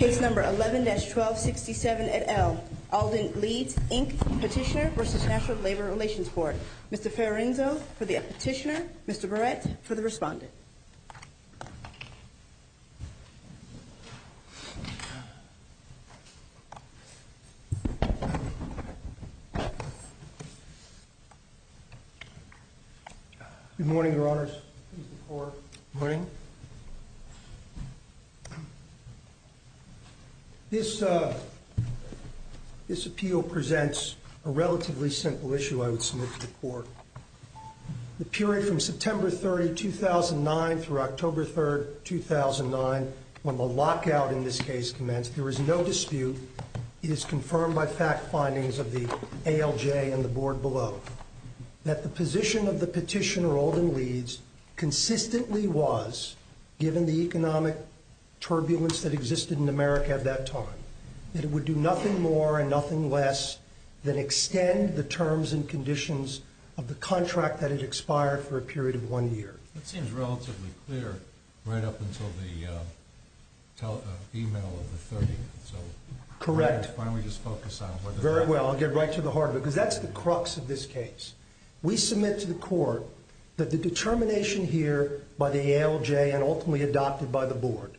11-1267 Alden Leeds, Inc. v. National Labor Relations Board Mr. Ferenczo for the petitioner, Mr. Barrett for the respondent Good morning, Your Honors. Good morning. This appeal presents a relatively simple issue I would submit to the Court. The period from September 30, 2009 through October 3, 2009, when the lockout in this case commenced, there is no dispute. It is confirmed by fact findings of the ALJ and the Board below. That the position of the petitioner, Alden Leeds, consistently was, given the economic turbulence that existed in America at that time, that it would do nothing more and nothing less than extend the terms and conditions of the contract that had expired for a period of one year. That seems relatively clear right up until the email of the 30th. Correct. Very well, I'll get right to the heart of it, because that's the crux of this case. We submit to the Court that the determination here by the ALJ and ultimately adopted by the Board,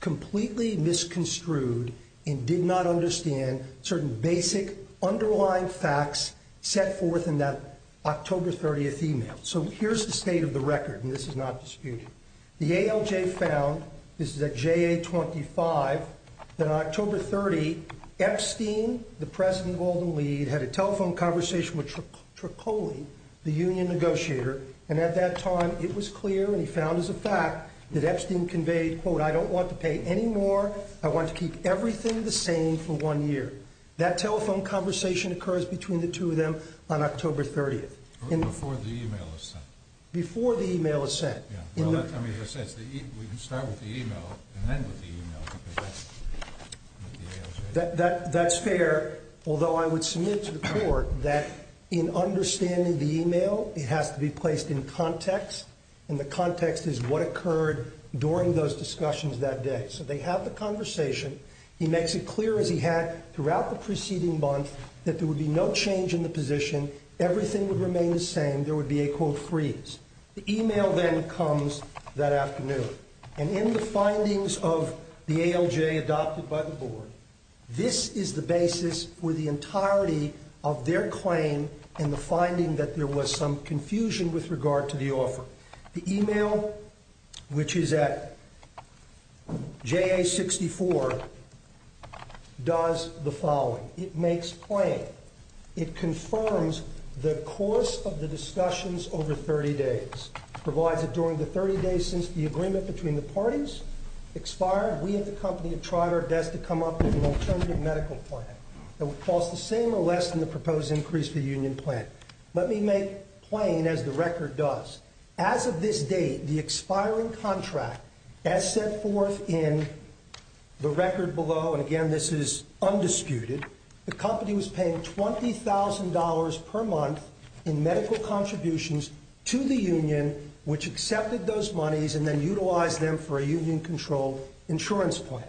completely misconstrued and did not understand certain basic underlying facts set forth in that October 30th email. So here's the state of the record, and this is not disputed. The ALJ found, this is at JA 25, that on October 30, Epstein, the president of Alden Leeds, had a telephone conversation with Tricoli, the union negotiator. And at that time, it was clear, and he found as a fact, that Epstein conveyed, quote, I don't want to pay any more, I want to keep everything the same for one year. That telephone conversation occurs between the two of them on October 30th. Before the email is sent. Before the email is sent. Well, that makes sense. We can start with the email and end with the email. That's fair, although I would submit to the Court that in understanding the email, it has to be placed in context, and the context is what occurred during those discussions that day. So they have the conversation. He makes it clear, as he had throughout the preceding month, that there would be no change in the position. Everything would remain the same. And there would be a, quote, freeze. The email then comes that afternoon. And in the findings of the ALJ adopted by the Board, this is the basis for the entirety of their claim and the finding that there was some confusion with regard to the offer. The email, which is at JA 64, does the following. It makes plain. It confirms the course of the discussions over 30 days. It provides that during the 30 days since the agreement between the parties expired, we at the company have tried our best to come up with an alternative medical plan that would cost the same or less than the proposed increase for the union plan. Let me make plain, as the record does, as of this date, the expiring contract, as set forth in the record below, and again, this is undisputed, the company was paying $20,000 per month in medical contributions to the union, which accepted those monies and then utilized them for a union-controlled insurance plan.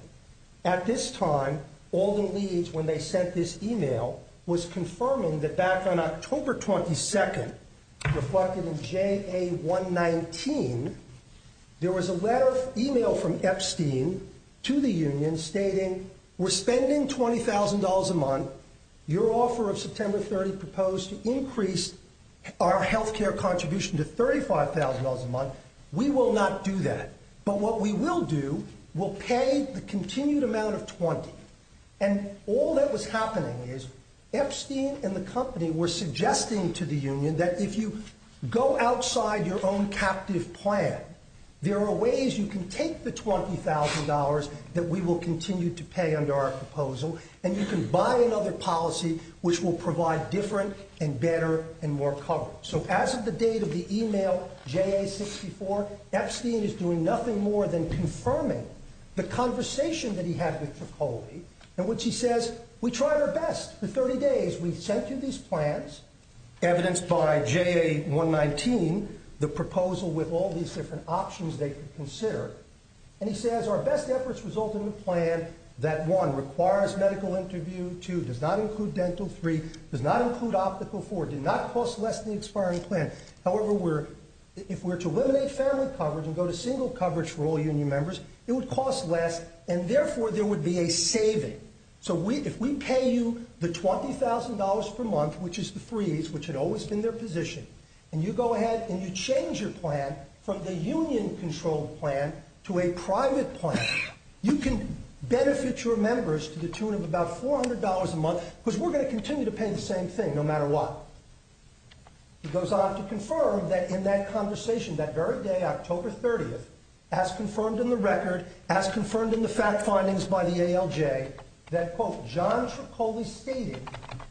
At this time, Alden Leeds, when they sent this email, was confirming that back on October 22nd, reflected in JA 119, there was a letter, email from Epstein to the union stating, we're spending $20,000 a month. Your offer of September 30th proposed to increase our health care contribution to $35,000 a month. We will not do that. But what we will do, we'll pay the continued amount of $20,000. And all that was happening is Epstein and the company were suggesting to the union that if you go outside your own captive plan, there are ways you can take the $20,000 that we will continue to pay under our proposal, and you can buy another policy which will provide different and better and more coverage. So as of the date of the email, JA 64, Epstein is doing nothing more than confirming the conversation that he had with Tricoli, in which he says, we tried our best for 30 days. We sent you these plans, evidenced by JA 119, the proposal with all these different options they could consider. And he says, our best efforts resulted in a plan that, one, requires medical interview, two, does not include dental, three, does not include optical, four, did not cost less than the expiring plan. However, if we were to eliminate family coverage and go to single coverage for all union members, it would cost less, and therefore there would be a saving. So if we pay you the $20,000 per month, which is the freeze, which had always been their position, and you go ahead and you change your plan from the union-controlled plan to a private plan, you can benefit your members to the tune of about $400 a month, because we're going to continue to pay the same thing, no matter what. He goes on to confirm that in that conversation, that very day, October 30th, as confirmed in the record, as confirmed in the fact findings by the ALJ, that, quote, John Tricoli stated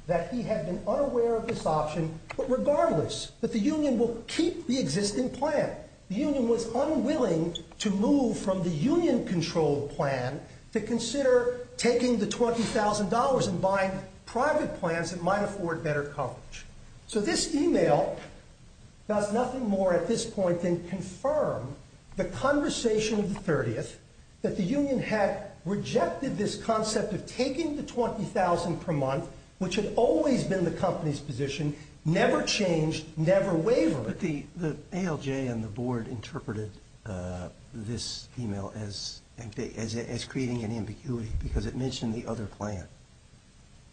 that he had been unaware of this option, but regardless, that the union will keep the existing plan. The union was unwilling to move from the union-controlled plan to consider taking the $20,000 and buying private plans that might afford better coverage. So this e-mail does nothing more at this point than confirm the conversation of the 30th, that the union had rejected this concept of taking the $20,000 per month, which had always been the company's position, never changed, never wavered. But the ALJ and the board interpreted this e-mail as creating an ambiguity, because it mentioned the other plan.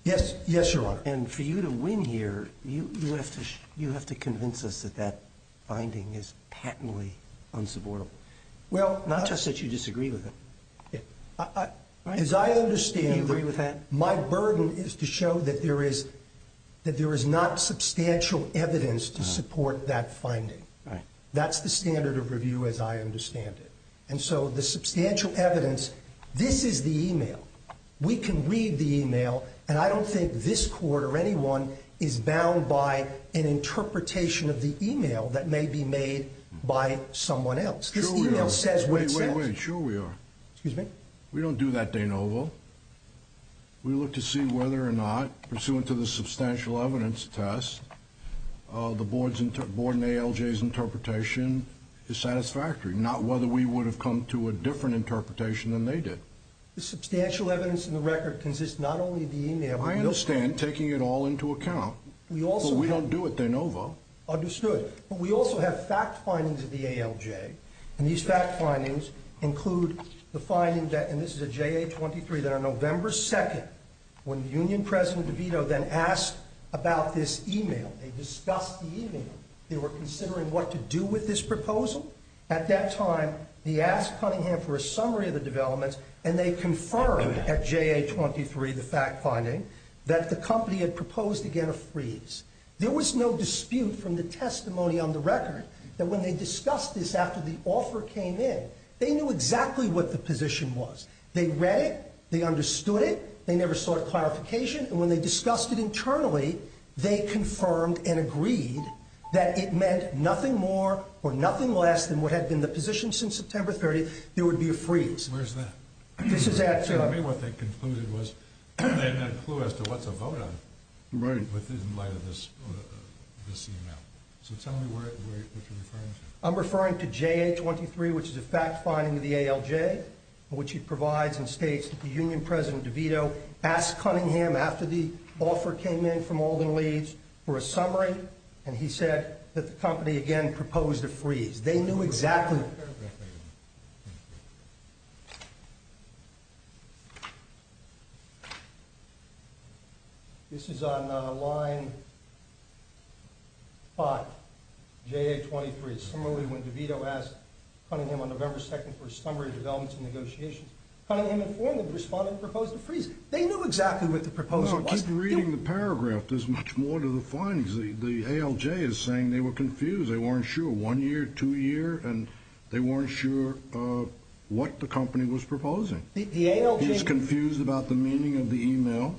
Yes, Your Honor. And for you to win here, you have to convince us that that finding is patently unsupportable. Well, not just that you disagree with it. As I understand it, my burden is to show that there is not substantial evidence to support that finding. That's the standard of review as I understand it. And so the substantial evidence, this is the e-mail. We can read the e-mail, and I don't think this court or anyone is bound by an interpretation of the e-mail that may be made by someone else. Sure we are. This e-mail says what it says. Wait, wait, wait. Sure we are. Excuse me? We don't do that, De Novo. We look to see whether or not, pursuant to the substantial evidence test, the board and ALJ's interpretation is satisfactory, not whether we would have come to a different interpretation than they did. The substantial evidence in the record consists not only of the e-mail. I understand, taking it all into account. But we don't do it, De Novo. Understood. But we also have fact findings of the ALJ, and these fact findings include the finding that, and this is a JA-23 that on November 2nd, when the union president DeVito then asked about this e-mail, they discussed the e-mail, they were considering what to do with this proposal. At that time, he asked Cunningham for a summary of the developments, and they confirmed at JA-23, the fact finding, that the company had proposed again a freeze. There was no dispute from the testimony on the record that when they discussed this after the offer came in, they knew exactly what the position was. They read it. They understood it. They never sought a clarification, and when they discussed it internally, they confirmed and agreed that it meant nothing more or nothing less than what had been the position since September 30th, there would be a freeze. Where's that? This is at... Tell me what they concluded was they had no clue as to what to vote on. Right. In light of this e-mail. So tell me what you're referring to. I'm referring to JA-23, which is a fact finding of the ALJ, which it provides and states that the union president DeVito asked Cunningham after the offer came in from Alden Leeds for a summary, and he said that the company again proposed a freeze. They knew exactly... This is on line 5, JA-23. Similarly, when DeVito asked Cunningham on November 2nd for a summary of developments and negotiations, Cunningham informed them, responded, and proposed a freeze. They knew exactly what the proposal was. Keep reading the paragraph. There's much more to the findings. The ALJ is saying they were confused. They weren't sure one year, two years, and they weren't sure what the company was proposing. The ALJ... He's confused about the meaning of the e-mail,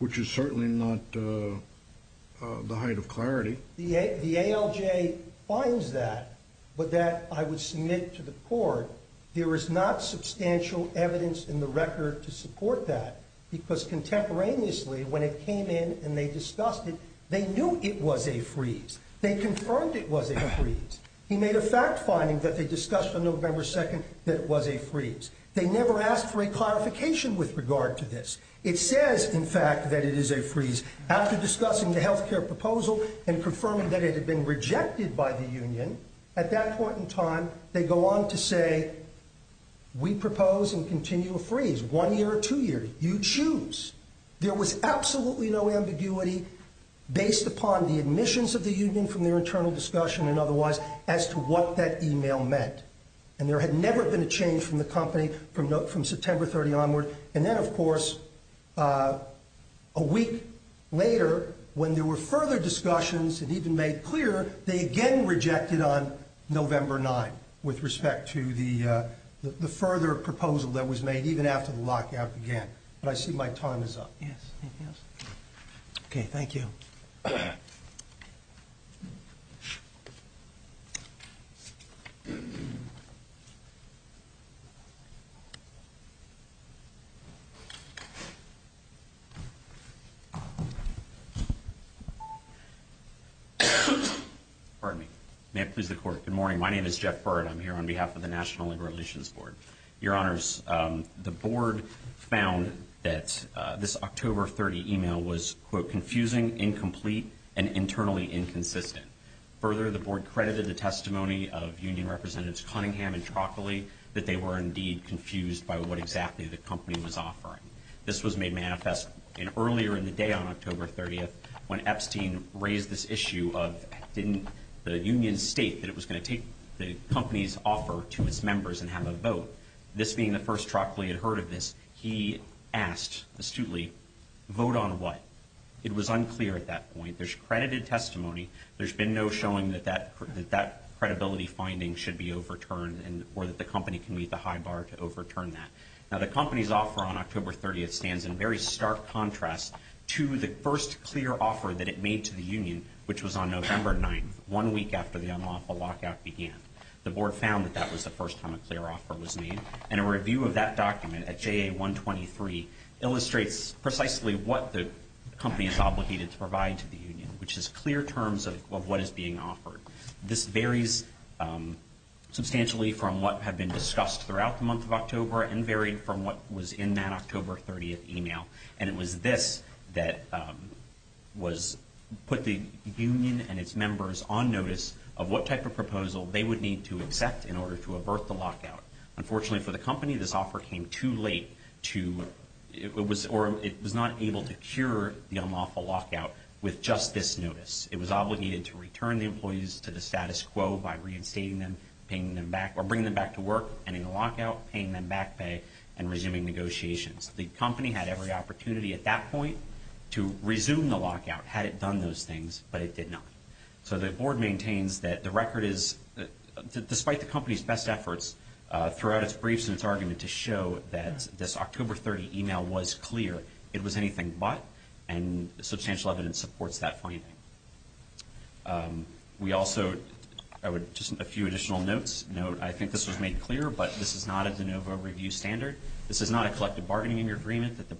which is certainly not the height of clarity. The ALJ finds that, but that I would submit to the court. There is not substantial evidence in the record to support that because contemporaneously, when it came in and they discussed it, they knew it was a freeze. They confirmed it was a freeze. He made a fact finding that they discussed on November 2nd that it was a freeze. They never asked for a clarification with regard to this. It says, in fact, that it is a freeze. After discussing the health care proposal and confirming that it had been rejected by the union, at that point in time, they go on to say, we propose and continue a freeze, one year or two years. You choose. There was absolutely no ambiguity based upon the admissions of the union from their internal discussion and otherwise as to what that e-mail meant. And there had never been a change from the company from September 30 onward. And then, of course, a week later, when there were further discussions and even made clear, they again rejected on November 9th with respect to the further proposal that was made even after the lockout began. But I see my time is up. Okay, thank you. May it please the Court, good morning. My name is Jeff Byrd. I'm here on behalf of the National Labor Relations Board. Your Honors, the board found that this October 30 e-mail was, quote, confusing, incomplete, and internally inconsistent. Further, the board credited the testimony of union representatives Cunningham and Troccoli that they were indeed confused by what exactly the company was offering. This was made manifest earlier in the day on October 30th when Epstein raised this issue of the union state that it was going to take the company's offer to its members and have a vote. This being the first Troccoli had heard of this, he asked astutely, vote on what? It was unclear at that point. There's credited testimony. There's been no showing that that credibility finding should be overturned or that the company can meet the high bar to overturn that. Now, the company's offer on October 30th stands in very stark contrast to the first clear offer that it made to the union, which was on November 9th, one week after the unlawful lockout began. The board found that that was the first time a clear offer was made. And a review of that document at JA 123 illustrates precisely what the company is obligated to provide to the union, which is clear terms of what is being offered. This varies substantially from what had been discussed throughout the month of October and it was this that put the union and its members on notice of what type of proposal they would need to accept in order to avert the lockout. Unfortunately for the company, this offer came too late. It was not able to cure the unlawful lockout with just this notice. It was obligated to return the employees to the status quo by reinstating them, bringing them back to work, ending the lockout, paying them back pay, and resuming negotiations. The company had every opportunity at that point to resume the lockout had it done those things, but it did not. So the board maintains that the record is, despite the company's best efforts throughout its briefs and its argument to show that this October 30 email was clear, it was anything but, and substantial evidence supports that finding. We also, just a few additional notes. I think this was made clear, but this is not a de novo review standard. This is not a collective bargaining agreement that the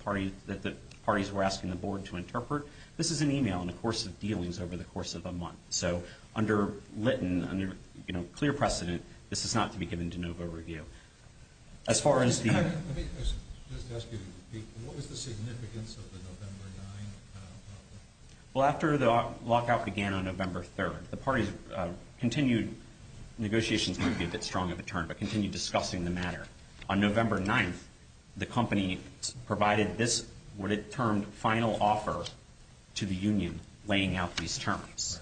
parties were asking the board to interpret. This is an email in the course of dealings over the course of a month. So under Lytton, under clear precedent, this is not to be given de novo review. Let me just ask you to repeat, what was the significance of the November 9 lockout? Well, after the lockout began on November 3rd, the parties continued negotiations, might be a bit strong of a term, but continued discussing the matter. On November 9th, the company provided this, what it termed, final offer to the union laying out these terms.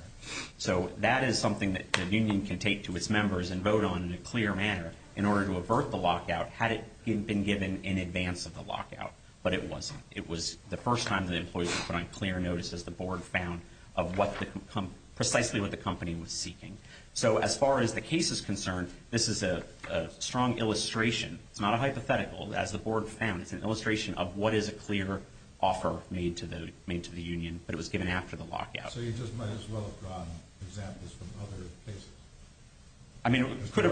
So that is something that the union can take to its members and vote on in a clear manner. In order to avert the lockout, had it been given in advance of the lockout, but it wasn't. It was the first time that employees were put on clear notice, as the board found, of precisely what the company was seeking. So as far as the case is concerned, this is a strong illustration. It's not a hypothetical, as the board found. It's an illustration of what is a clear offer made to the union, but it was given after the lockout. So you just might as well have drawn examples from other cases. To show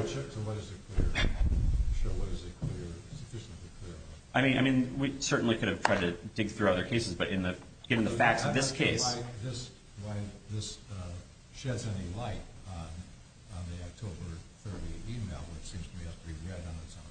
what is a clear, sufficiently clear offer. I mean, we certainly could have tried to dig through other cases, but given the facts of this case. I don't see why this sheds any light on the October 30th email, which seems to be up to be red on its face.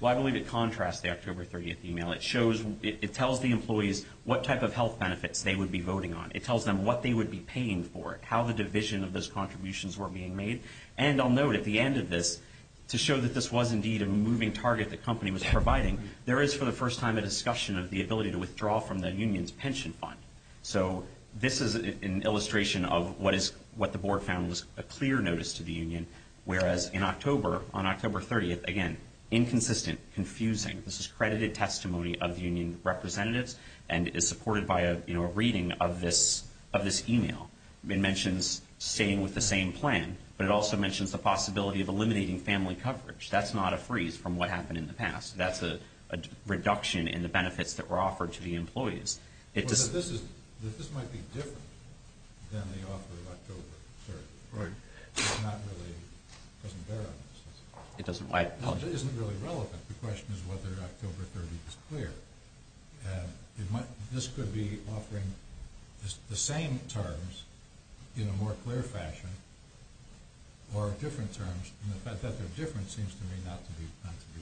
Well, I believe it contrasts the October 30th email. It tells the employees what type of health benefits they would be voting on. It tells them what they would be paying for it, how the division of those contributions were being made. And I'll note, at the end of this, to show that this was indeed a moving target the company was providing, there is, for the first time, a discussion of the ability to withdraw from the union's pension fund. So this is an illustration of what the board found was a clear notice to the union, whereas in October, on October 30th, again, inconsistent, confusing. This is credited testimony of the union representatives, and is supported by a reading of this email. It mentions staying with the same plan, but it also mentions the possibility of eliminating family coverage. That's not a freeze from what happened in the past. That's a reduction in the benefits that were offered to the employees. This might be different than the offer of October 30th. Right. It's not really, it doesn't bear on us. It doesn't. It isn't really relevant. The question is whether October 30th is clear. This could be offering the same terms in a more clear fashion or different terms. And the fact that they're different seems to me not to be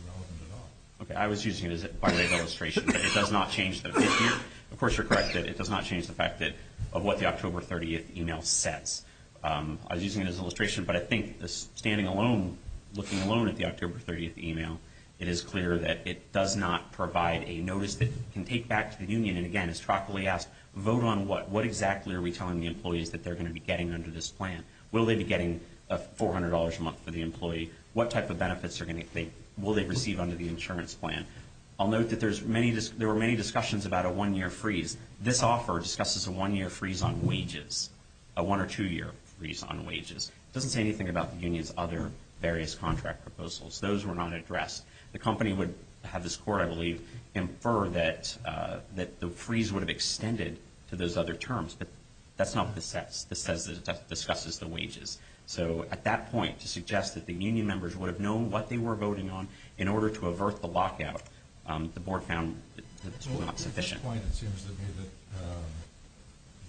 relevant at all. Okay. I was using it by way of illustration, but it does not change the, of course you're correct that it does not change the fact that, of what the October 30th email says. I was using it as an illustration, but I think standing alone, looking alone at the October 30th email, it is clear that it does not provide a notice that can take back to the union. And, again, as Troccoli asked, vote on what? What exactly are we telling the employees that they're going to be getting under this plan? Will they be getting $400 a month for the employee? What type of benefits will they receive under the insurance plan? I'll note that there were many discussions about a one-year freeze. This offer discusses a one-year freeze on wages, a one- or two-year freeze on wages. It doesn't say anything about the union's other various contract proposals. Those were not addressed. The company would have this court, I believe, infer that the freeze would have extended to those other terms. But that's not what this says. It just discusses the wages. So at that point, to suggest that the union members would have known what they were voting on in order to avert the lockout, the board found it was not sufficient. At this point, it seems to me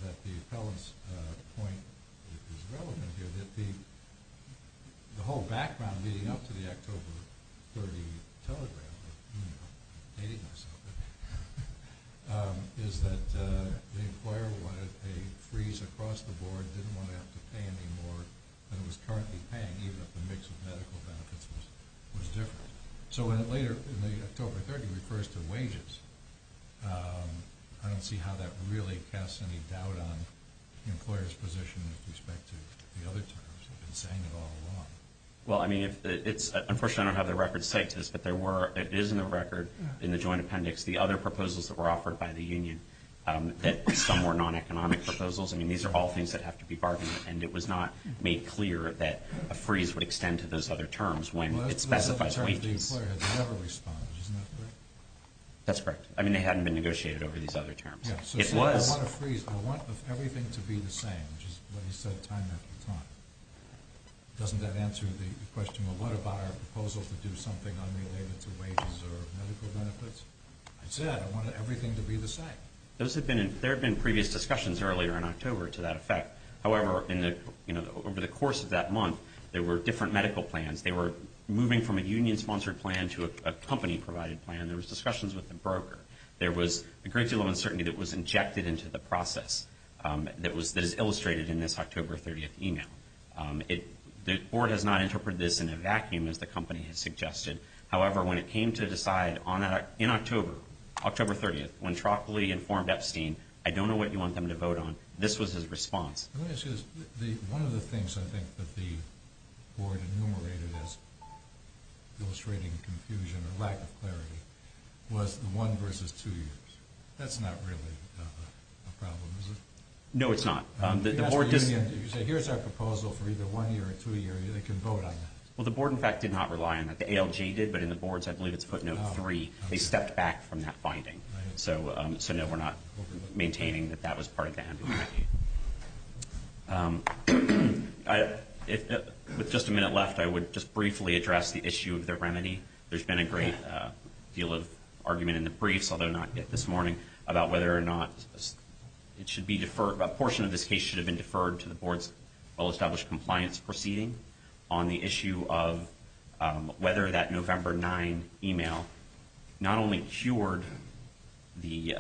that the appellant's point is relevant here. The whole background leading up to the October 30 telegram is that the employer wanted a freeze across the board, didn't want to have to pay any more than it was currently paying, even if the mix of medical benefits was different. So when it later, in the October 30, refers to wages, I don't see how that really casts any doubt on the employer's position with respect to the other terms. They've been saying it all along. Well, I mean, unfortunately, I don't have the record set to this, but it is in the record in the joint appendix, the other proposals that were offered by the union. Some were non-economic proposals. I mean, these are all things that have to be bargained. And it was not made clear that a freeze would extend to those other terms when it specifies wages. That's correct. I mean, they hadn't been negotiated over these other terms. It was. I want a freeze. I want everything to be the same, which is what he said time after time. Doesn't that answer the question of what about our proposal to do something unrelated to wages or medical benefits? I said I wanted everything to be the same. There have been previous discussions earlier in October to that effect. However, over the course of that month, there were different medical plans. They were moving from a union-sponsored plan to a company-provided plan. There was discussions with the broker. There was a great deal of uncertainty that was injected into the process that is illustrated in this October 30th email. The board has not interpreted this in a vacuum, as the company has suggested. However, when it came to decide in October, October 30th, when Trockley informed Epstein, I don't know what you want them to vote on, this was his response. Let me ask you this. One of the things I think that the board enumerated as illustrating confusion or lack of clarity was the one versus two years. That's not really a problem, is it? No, it's not. If you say here's our proposal for either one year or two years, they can vote on that. Well, the board, in fact, did not rely on that. The ALG did, but in the boards, I believe it's footnote three. They stepped back from that finding. So, no, we're not maintaining that that was part of that. With just a minute left, I would just briefly address the issue of the remedy. There's been a great deal of argument in the briefs, although not yet this morning, about whether or not it should be deferred. A portion of this case should have been deferred to the board's well-established compliance proceeding on the issue of whether that November 9 email not only cured the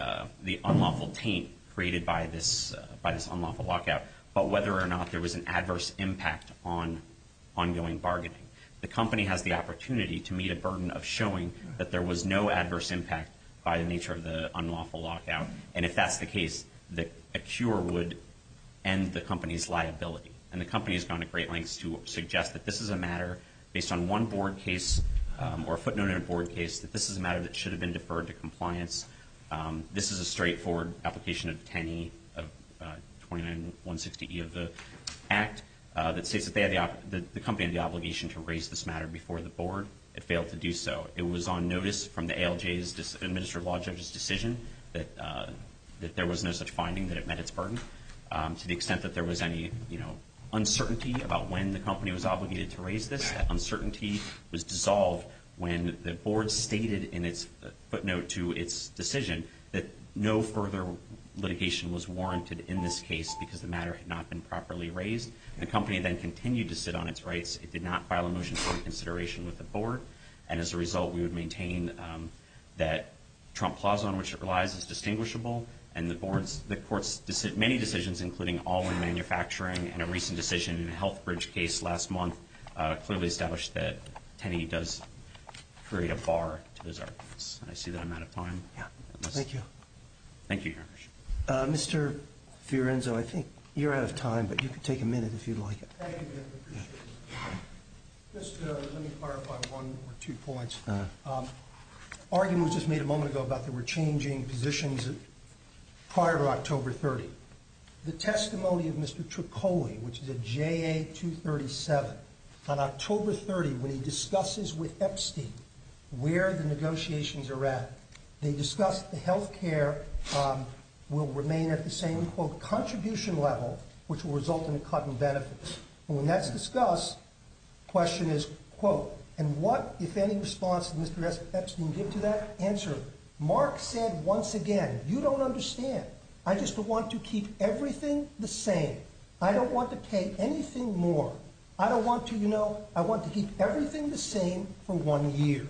unlawful taint created by this unlawful lockout, but whether or not there was an adverse impact on ongoing bargaining. The company has the opportunity to meet a burden of showing that there was no adverse impact by the nature of the unlawful lockout. And if that's the case, a cure would end the company's liability. And the company has gone to great lengths to suggest that this is a matter, based on one board case or a footnote in a board case, that this is a matter that should have been deferred to compliance. This is a straightforward application of 10E of 29-160E of the Act that states that the company had the obligation to raise this matter before the board. It failed to do so. It was on notice from the ALJ's administrative law judge's decision that there was no such finding that it met its burden, to the extent that there was any uncertainty about when the company was obligated to raise this. That uncertainty was dissolved when the board stated in its footnote to its decision that no further litigation was warranted in this case because the matter had not been properly raised. The company then continued to sit on its rights. It did not file a motion for reconsideration with the board. And as a result, we would maintain that Trump Plaza, on which it relies, is distinguishable. And the court's many decisions, including all in manufacturing and a recent decision in a Healthbridge case last month, clearly established that 10E does create a bar to those arguments. I see that I'm out of time. Thank you, Your Honor. Mr. Fiorenzo, I think you're out of time, but you can take a minute if you'd like. Thank you. Just let me clarify one or two points. An argument was just made a moment ago about there were changing positions prior to October 30. The testimony of Mr. Tricoli, which is at JA 237, on October 30, when he discusses with Epstein where the negotiations are at, they discuss the health care will remain at the same, quote, contribution level, which will result in a cut in benefits. When that's discussed, the question is, quote, and what, if any, response did Mr. Epstein give to that answer? Mark said once again, you don't understand. I just want to keep everything the same. I don't want to pay anything more. I don't want to, you know, I want to keep everything the same for one year.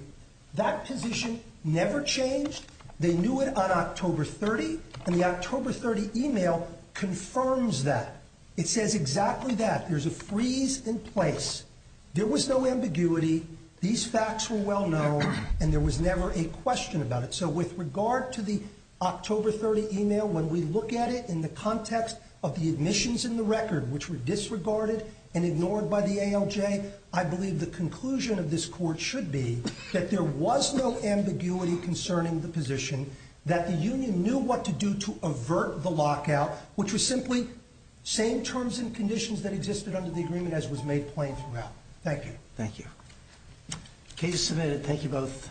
That position never changed. They knew it on October 30, and the October 30 email confirms that. It says exactly that. There's a freeze in place. There was no ambiguity. These facts were well known, and there was never a question about it. So with regard to the October 30 email, when we look at it in the context of the admissions in the record, which were disregarded and ignored by the ALJ, I believe the conclusion of this court should be that there was no ambiguity concerning the position, that the union knew what to do to avert the lockout, which was simply same terms and conditions that existed under the agreement as was made plain throughout. Thank you. Thank you. Case submitted. Thank you both.